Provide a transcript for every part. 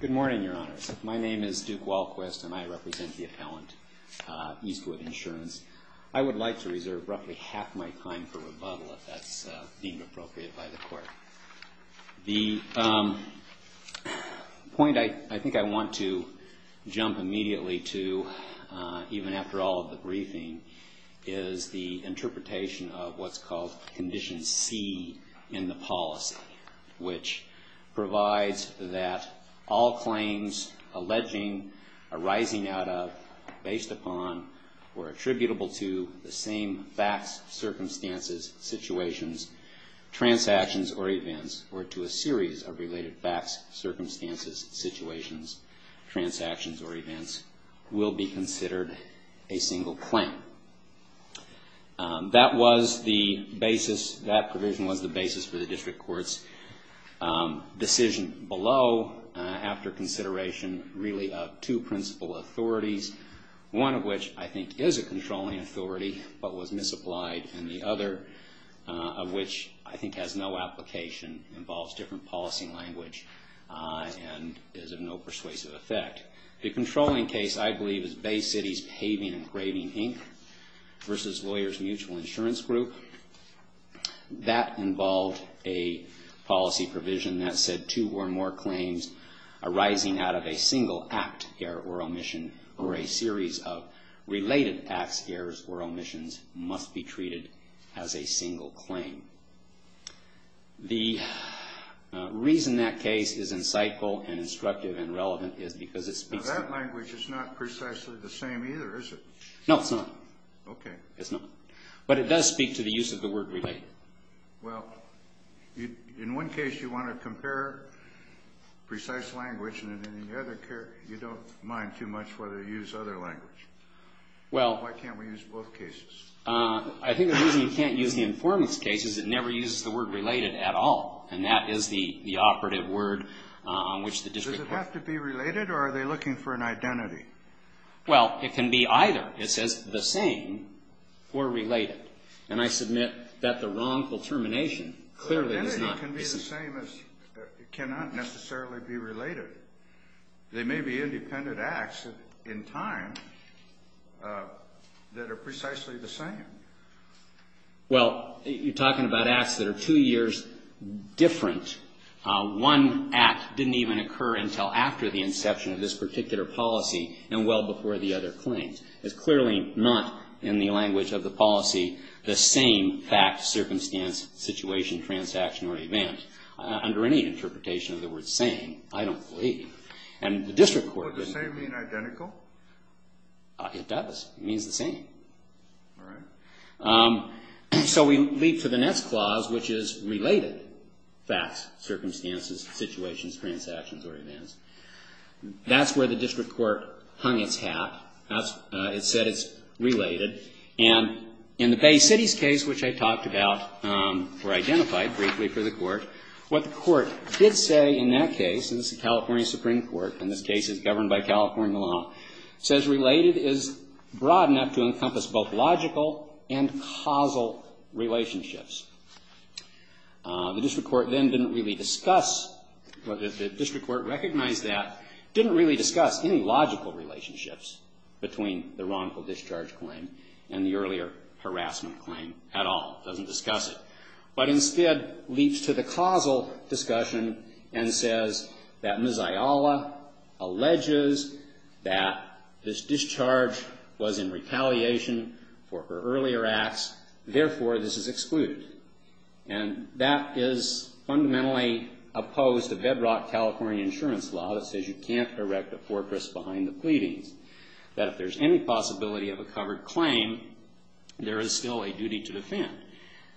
Good morning, Your Honors. My name is Duke Walquist and I represent the appellant Eastwood Insurance. I would like to reserve roughly half my time for rebuttal if that's deemed appropriate by the court. The point I think I want to jump immediately to, even after all of the briefing, is the interpretation of what's called Condition C in the policy, which provides that all claims alleging, arising out of, based upon, or attributable to the same facts, circumstances, situations, transactions, or even other circumstances, are subject to the same conditions. That was the basis, that provision was the basis for the District Court's decision below, after consideration, really of two principal authorities, one of which I think is a controlling authority, but was misapplied, and the other of which I think has no application. It involves different policy language and is of no persuasive effect. The controlling case, I believe, is Bay City's Paving and Graving Inc. v. Lawyers Mutual Insurance Group. That involved a policy provision that said two or more claims arising out of a single act, error, or omission, or a series of related acts, errors, or omissions, must be treated as a single claim. The reason that case is insightful and instructive and relevant is because it speaks to... Now, that language is not precisely the same either, is it? No, it's not. Okay. It's not. But it does speak to the use of the word related. Well, in one case, you want to compare precise language, and in the other case, you don't mind too much whether you use other language. Well... Why can't we use both cases? I think the reason you can't use the informant's case is it never uses the word related at all, and that is the operative word on which the district... Does it have to be related, or are they looking for an identity? Well, it can be either. It says the same or related. And I submit that the wrongful termination clearly does not... The identity can be the same as... It cannot necessarily be related. They may be independent acts in time that are precisely the same. Well, you're talking about acts that are two years different. One act didn't even occur until after the inception of this particular policy and well before the other claims. It's clearly not, in the language of the policy, the same fact, circumstance, situation, transaction, or event. Under any interpretation of the word same, I don't believe. And the district court... Does the same mean identical? It does. It means the same. All right. So we leap to the next clause, which is related facts, circumstances, situations, transactions, or events. That's where the district court hung its hat. It said it's related. And in the Bay City's case, which I talked about or identified briefly for the Court, what the Court did say in that case, and this is the California Supreme Court, and this case is governed by California law, says related is broad enough to encompass both logical and causal relationships. The district court then didn't really discuss... The district court recognized that, didn't really discuss any logical relationships between the wrongful discharge claim and the earlier harassment claim at all. It doesn't discuss it. But instead leaps to the causal discussion and says that Ms. Ayala alleges that this discharge was in retaliation for her earlier acts. Therefore, this is excluded. And that is fundamentally opposed to bedrock California insurance law that says you can't erect a fortress behind the pleadings. That if there's any possibility of a covered claim, there is still a duty to defend.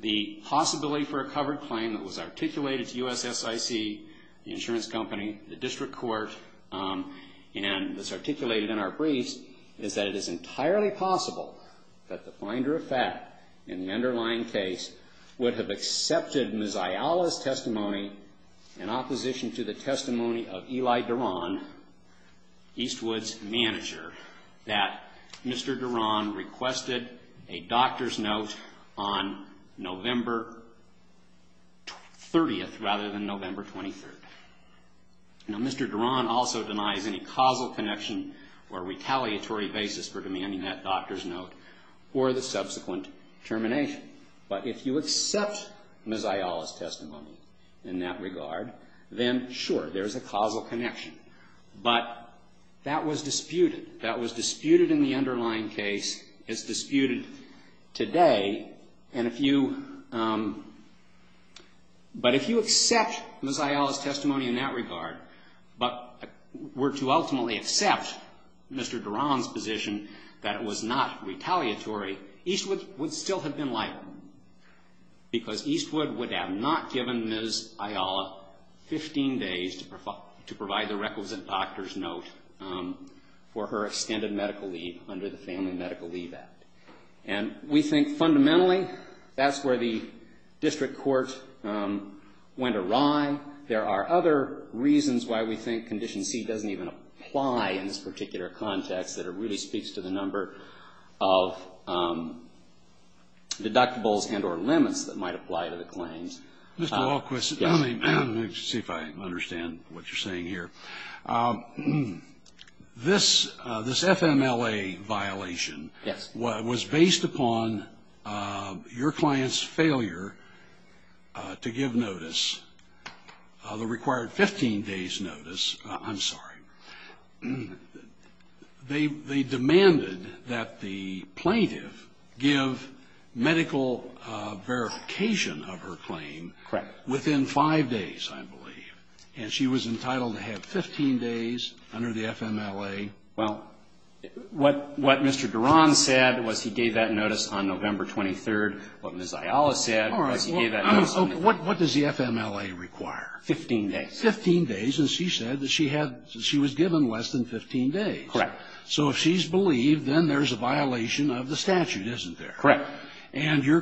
The possibility for a covered claim that was articulated to USSIC, the insurance company, the district court, and that's articulated in our briefs is that it is entirely possible that the finder of fact in the underlying case would have accepted Ms. Ayala's testimony in opposition to the testimony of Eli Duran, Eastwood's manager, that Mr. Duran requested a doctor's note on November 30th rather than November 23rd. Now, Mr. Duran also denies any causal connection or retaliatory basis for demanding that doctor's note or the subsequent termination. But if you accept Ms. Ayala's testimony in that regard, then sure, there's a causal connection. But that was disputed. That was disputed in the underlying case. It's disputed today. And if you – but if you accept Ms. Ayala's testimony in that regard but were to ultimately accept Mr. Duran's position that it was not retaliatory, Eastwood would still have been liable because Eastwood would have not given Ms. Ayala 15 days to provide the requisite doctor's note for her extended medical leave under the Family Medical Leave Act. And we think fundamentally that's where the district court went awry. There are other reasons why we think Condition C doesn't even apply in this particular context, that it really speaks to the number of deductibles and or limits that might apply to the claims. Mr. Walquist, let me see if I understand what you're saying here. This FMLA violation was based upon your client's failure to give notice, the required 15 days notice. I'm sorry. They demanded that the plaintiff give medical verification of her claim within five days, I believe. And she was entitled to have 15 days under the FMLA. Well, what Mr. Duran said was he gave that notice on November 23rd. What Ms. Ayala said was he gave that notice on November 23rd. All right. What does the FMLA require? 15 days. 15 days. And she said that she was given less than 15 days. Correct. So if she's believed, then there's a violation of the statute, isn't there? Correct. And your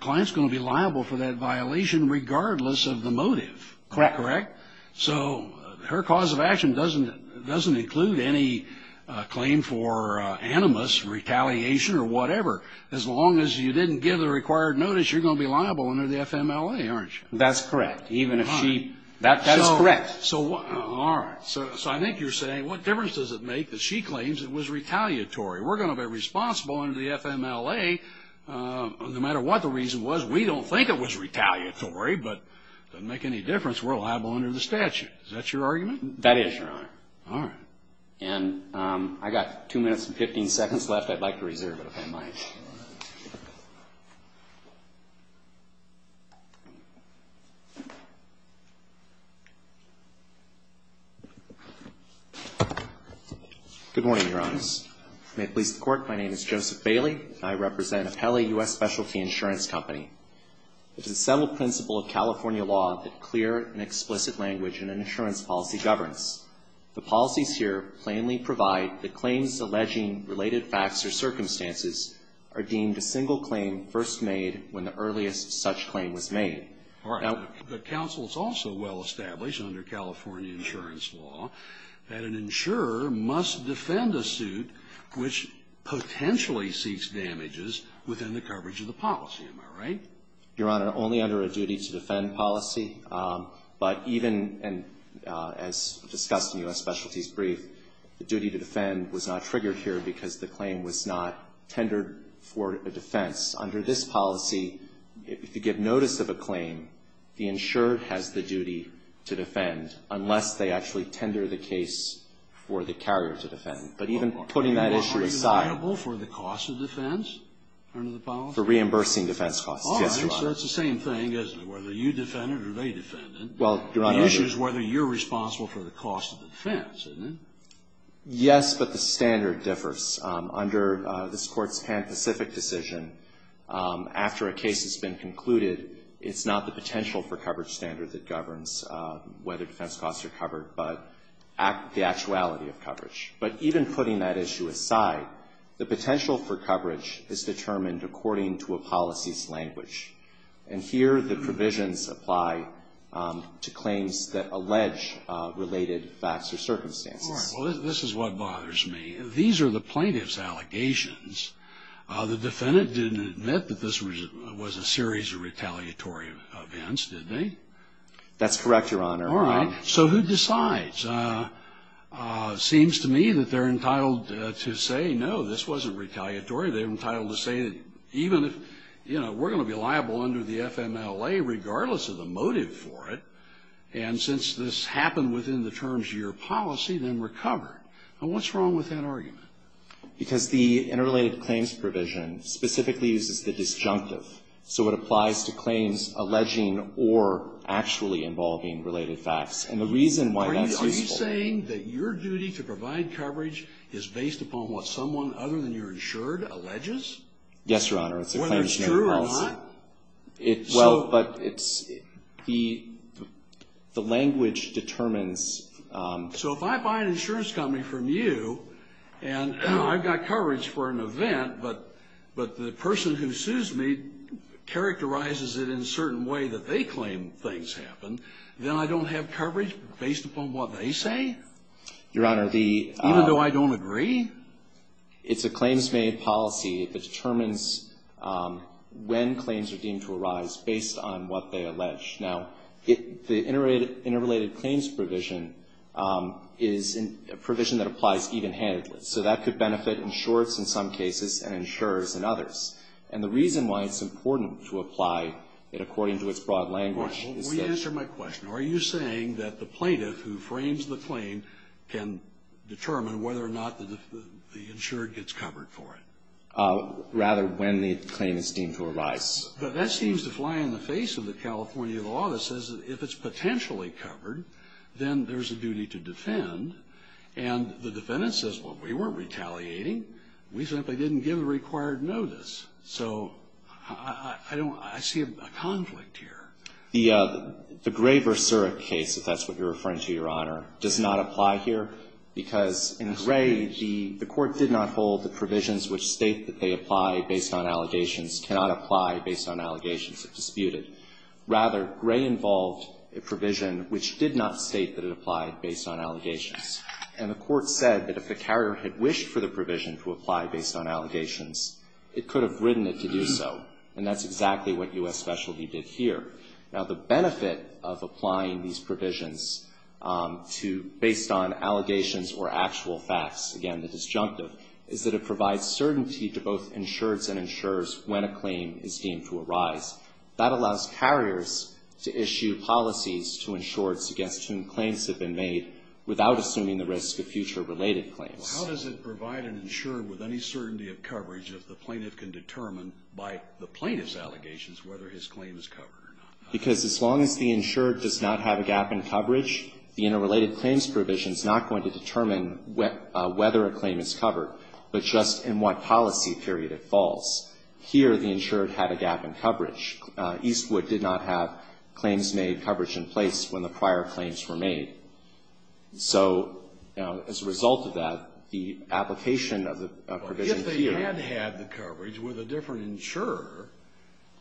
client's going to be liable for that violation regardless of the motive. Correct. Correct? So her cause of action doesn't include any claim for animus, retaliation or whatever. As long as you didn't give the required notice, you're going to be liable under the FMLA, aren't you? That's correct. Even if she -- That is correct. All right. So I think you're saying what difference does it make that she claims it was retaliatory? We're going to be responsible under the FMLA no matter what the reason was. We don't think it was retaliatory, but it doesn't make any difference. We're liable under the statute. Is that your argument? That is, Your Honor. All right. And I've got 2 minutes and 15 seconds left. I'd like to reserve it, if I might. Good morning, Your Honors. May it please the Court, my name is Joseph Bailey, and I represent Apelli U.S. Specialty Insurance Company. It is a settled principle of California law that clear and explicit language in an insurance policy governs. The policies here plainly provide that claims alleging related facts or circumstances are deemed a single claim first made when the earliest such claim was made. All right. The counsel has also well established under California insurance law that an insurer must defend a suit which potentially seeks damages within the coverage of the policy. Am I right? Your Honor, only under a duty to defend policy. But even as discussed in U.S. Specialty's brief, the duty to defend was not triggered here because the claim was not tendered for a defense. Under this policy, if you give notice of a claim, the insurer has the duty to defend unless they actually tender the case for the carrier to defend. But even putting that issue aside. Are you liable for the cost of defense under the policy? For reimbursing defense costs, yes, Your Honor. So that's the same thing, isn't it? Whether you defend it or they defend it. Well, Your Honor. The issue is whether you're responsible for the cost of the defense, isn't it? Yes, but the standard differs. Under this Court's Pan-Pacific decision, after a case has been concluded, it's not the potential for coverage standard that governs whether defense costs are covered, but the actuality of coverage. But even putting that issue aside, the potential for coverage is determined according to a policy's language. And here the provisions apply to claims that allege related facts or circumstances. All right. Well, this is what bothers me. These are the plaintiff's allegations. The defendant didn't admit that this was a series of retaliatory events, did they? That's correct, Your Honor. All right. So who decides? Seems to me that they're entitled to say, no, this wasn't retaliatory. They're entitled to say that even if, you know, we're going to be liable under the FMLA, regardless of the motive for it, and since this happened within the terms of your policy, then we're covered. Now, what's wrong with that argument? Because the interrelated claims provision specifically uses the disjunctive. So it applies to claims alleging or actually involving related facts. And the reason why that's useful — Are you saying that your duty to provide coverage is based upon what someone other than your insured alleges? Yes, Your Honor. Whether it's true or not? Well, but it's — the language determines — So if I buy an insurance company from you and I've got coverage for an event, but the person who sues me characterizes it in a certain way that they claim things happened, then I don't have coverage based upon what they say? Your Honor, the — Even though I don't agree? It's a claims-made policy that determines when claims are deemed to arise based on what they allege. Now, the interrelated claims provision is a provision that applies even-handedly. So that could benefit insurers in some cases and insurers in others. And the reason why it's important to apply it according to its broad language is that — Well, let me answer my question. Are you saying that the plaintiff who frames the claim can determine whether or not the insured gets covered for it? Rather, when the claim is deemed to arise. But that seems to fly in the face of the California law that says that if it's potentially covered, then there's a duty to defend. And the defendant says, well, we weren't retaliating. We simply didn't give the required notice. So I don't — I see a conflict here. The Gray v. Surick case, if that's what you're referring to, Your Honor, does not apply here because in Gray, the Court did not hold that provisions which state that they apply based on allegations cannot apply based on allegations if disputed. Rather, Gray involved a provision which did not state that it applied based on allegations. And the Court said that if the carrier had wished for the provision to apply based on allegations, it could have written it to do so. And that's exactly what U.S. Specialty did here. Now, the benefit of applying these provisions to — based on allegations or actual facts, again, the disjunctive, is that it provides certainty to both insureds and insurers when a claim is deemed to arise. That allows carriers to issue policies to insurers against whom claims have been made without assuming the risk of future related claims. Well, how does it provide an insurer with any certainty of coverage if the plaintiff can determine by the plaintiff's allegations whether his claim is covered or not? Because as long as the insured does not have a gap in coverage, the interrelated claims provision is not going to determine whether a claim is covered, but just in what policy period it falls. Here, the insured had a gap in coverage. Eastwood did not have claims-made coverage in place when the prior claims were made. So, you know, as a result of that, the application of the provision here — Well, if they had had the coverage with a different insurer,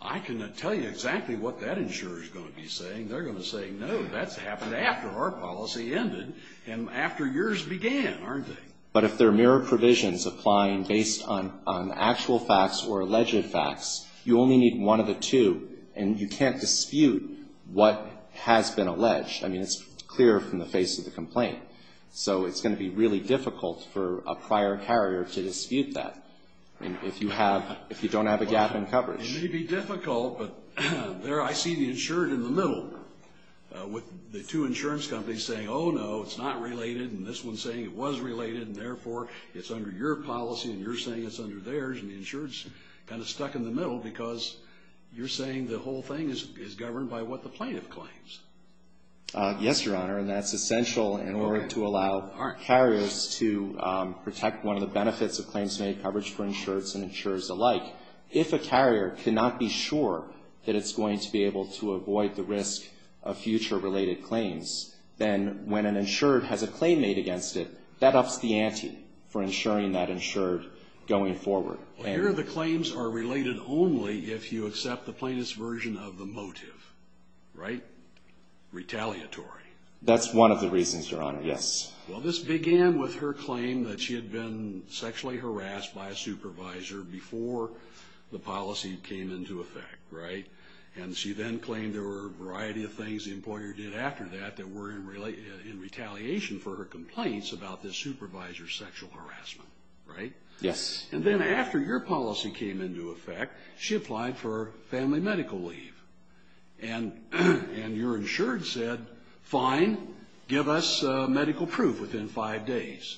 I can tell you exactly what that insurer is going to be saying. They're going to say, no, that's happened after our policy ended and after yours began, aren't they? But if they're mere provisions applying based on actual facts or alleged facts, you only need one of the two, and you can't dispute what has been alleged. I mean, it's clear from the face of the complaint. So it's going to be really difficult for a prior carrier to dispute that, if you don't have a gap in coverage. It may be difficult, but there I see the insured in the middle, with the two insurance companies saying, oh, no, it's not related, and this one's saying it was related, and therefore it's under your policy, and you're saying it's under theirs, and the insured's kind of stuck in the middle because you're saying the whole thing is governed by what the plaintiff claims. Yes, Your Honor, and that's essential in order to allow carriers to protect one of the benefits of claims-made coverage for insureds and insurers alike. If a carrier cannot be sure that it's going to be able to avoid the risk of future-related claims, then when an insured has a claim made against it, that ups the ante for insuring that insured going forward. Well, here the claims are related only if you accept the plaintiff's version of the motive, right? Retaliatory. That's one of the reasons, Your Honor, yes. Well, this began with her claim that she had been sexually harassed by a supervisor before the policy came into effect, right? And she then claimed there were a variety of things the employer did after that that were in retaliation for her complaints about the supervisor's sexual harassment, right? Yes. And then after your policy came into effect, she applied for family medical leave. And your insured said, fine, give us medical proof within five days.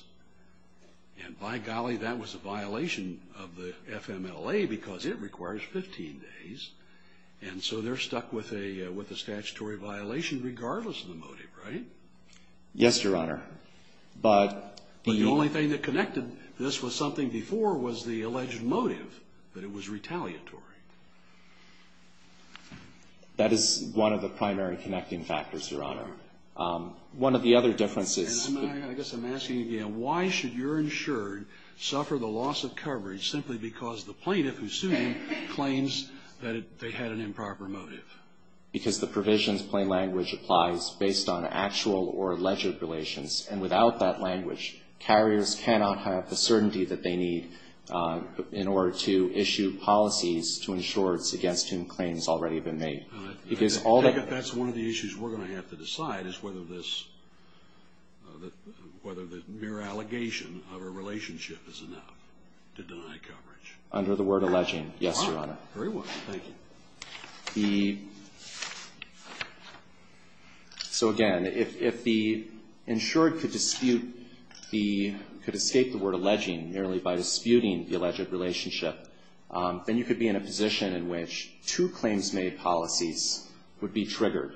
And by golly, that was a violation of the FMLA because it requires 15 days. And so they're stuck with a statutory violation regardless of the motive, right? Yes, Your Honor. But the only thing that connected this with something before was the alleged motive, that it was retaliatory. That is one of the primary connecting factors, Your Honor. One of the other differences. And I guess I'm asking again, why should your insured suffer the loss of coverage simply because the plaintiff who sued them claims that they had an improper motive? Because the provisions plain language applies based on actual or alleged relations. And without that language, carriers cannot have the certainty that they need in order to issue policies to ensure it's against whom claims already have been made. That's one of the issues we're going to have to decide, is whether the mere allegation of a relationship is enough to deny coverage. Under the word alleging, yes, Your Honor. Very well. Thank you. So again, if the insured could dispute the, could escape the word alleging merely by disputing the alleged relationship, then you could be in a position in which two claims made policies would be triggered.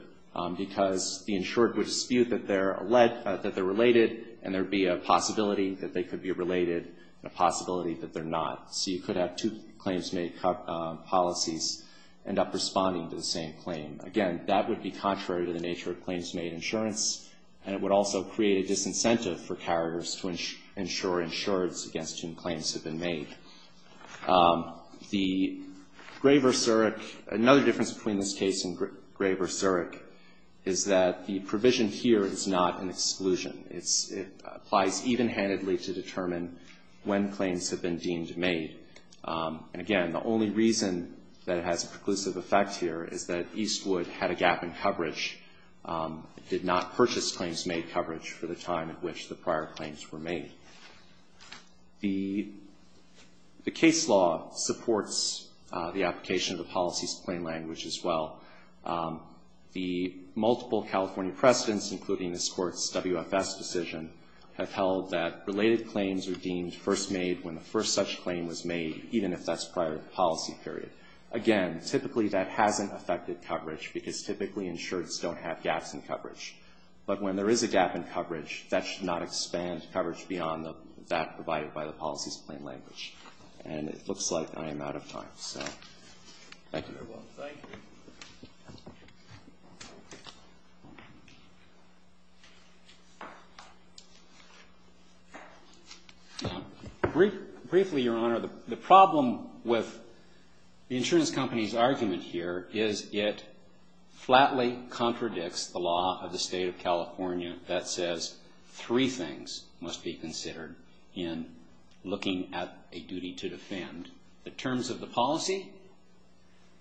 Because the insured would dispute that they're related and there would be a possibility that they could be related and a possibility that they're not. So you could have two claims made policies end up responding to the same claim. Again, that would be contrary to the nature of claims made insurance and it would also create a disincentive for carriers to ensure insureds against whom claims have been made. The Graver-Zurich, another difference between this case and Graver-Zurich, is that the provision here is not an exclusion. It applies even-handedly to determine when claims have been deemed made. And again, the only reason that it has a preclusive effect here is that Eastwood had a gap in coverage, did not purchase claims made coverage for the time at which the prior claims were made. The case law supports the application of the policies plain language as well. The multiple California precedents, including this Court's WFS decision, have held that related claims are deemed first made when the first such claim was made, even if that's prior to the policy period. Again, typically that hasn't affected coverage because typically insureds don't have gaps in coverage. But when there is a gap in coverage, that should not expand coverage beyond that provided by the policies plain language. And it looks like I am out of time, so thank you. Thank you very much. Thank you. Briefly, Your Honor, the problem with the insurance company's argument here is it flatly contradicts the law of the State of California that says three things must be considered in looking at a duty to defend. The terms of the policy,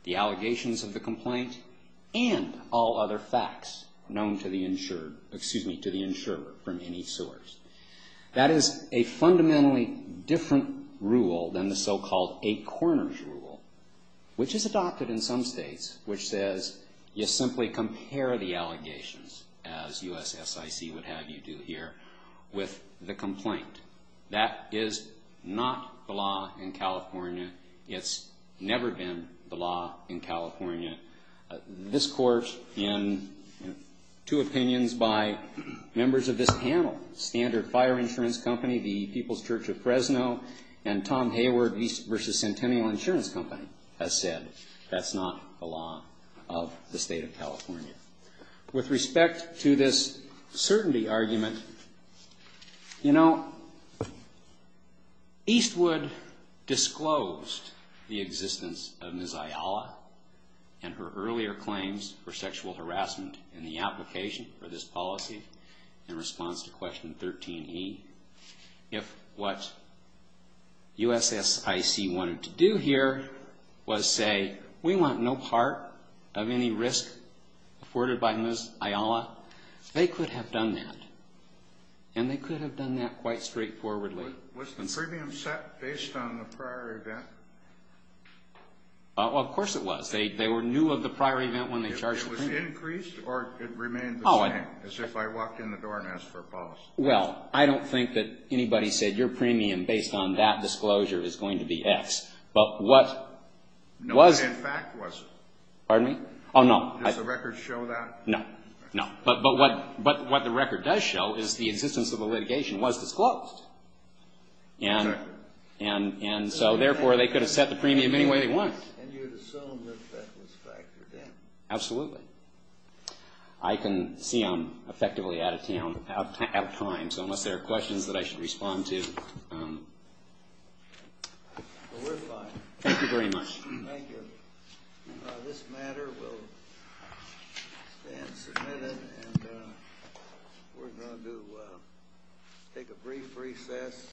the allegations of the complaint, and all other facts known to the insured, excuse me, to the insurer from any source. That is a fundamentally different rule than the so-called eight corners rule, which is adopted in some states, which says you simply compare the allegations, as USSIC would have you do here, with the complaint. That is not the law in California. It's never been the law in California. This Court, in two opinions by members of this panel, Standard Fire Insurance Company, the People's Church of Fresno, and Tom Hayward v. Centennial Insurance Company, has said that's not the law of the State of California. With respect to this certainty argument, you know, Eastwood disclosed the existence of Ms. Ayala and her earlier claims for sexual harassment in the application for this policy in response to Question 13e. If what USSIC wanted to do here was say, we want no part of any risk afforded by Ms. Ayala, they could have done that, and they could have done that quite straightforwardly. Was the premium set based on the prior event? Well, of course it was. They were new of the prior event when they charged the premium. It was increased or it remained the same, as if I walked in the door and asked for a policy? Well, I don't think that anybody said your premium based on that disclosure is going to be X. No one in fact was. Pardon me? Oh, no. Does the record show that? No. No. But what the record does show is the existence of the litigation was disclosed. And so, therefore, they could have set the premium any way they wanted. And you assume that that was factored in. Absolutely. I can see I'm effectively out of time, so unless there are questions that I should respond to. Well, we're fine. Thank you very much. Thank you. This matter will stand submitted, and we're going to take a brief recess.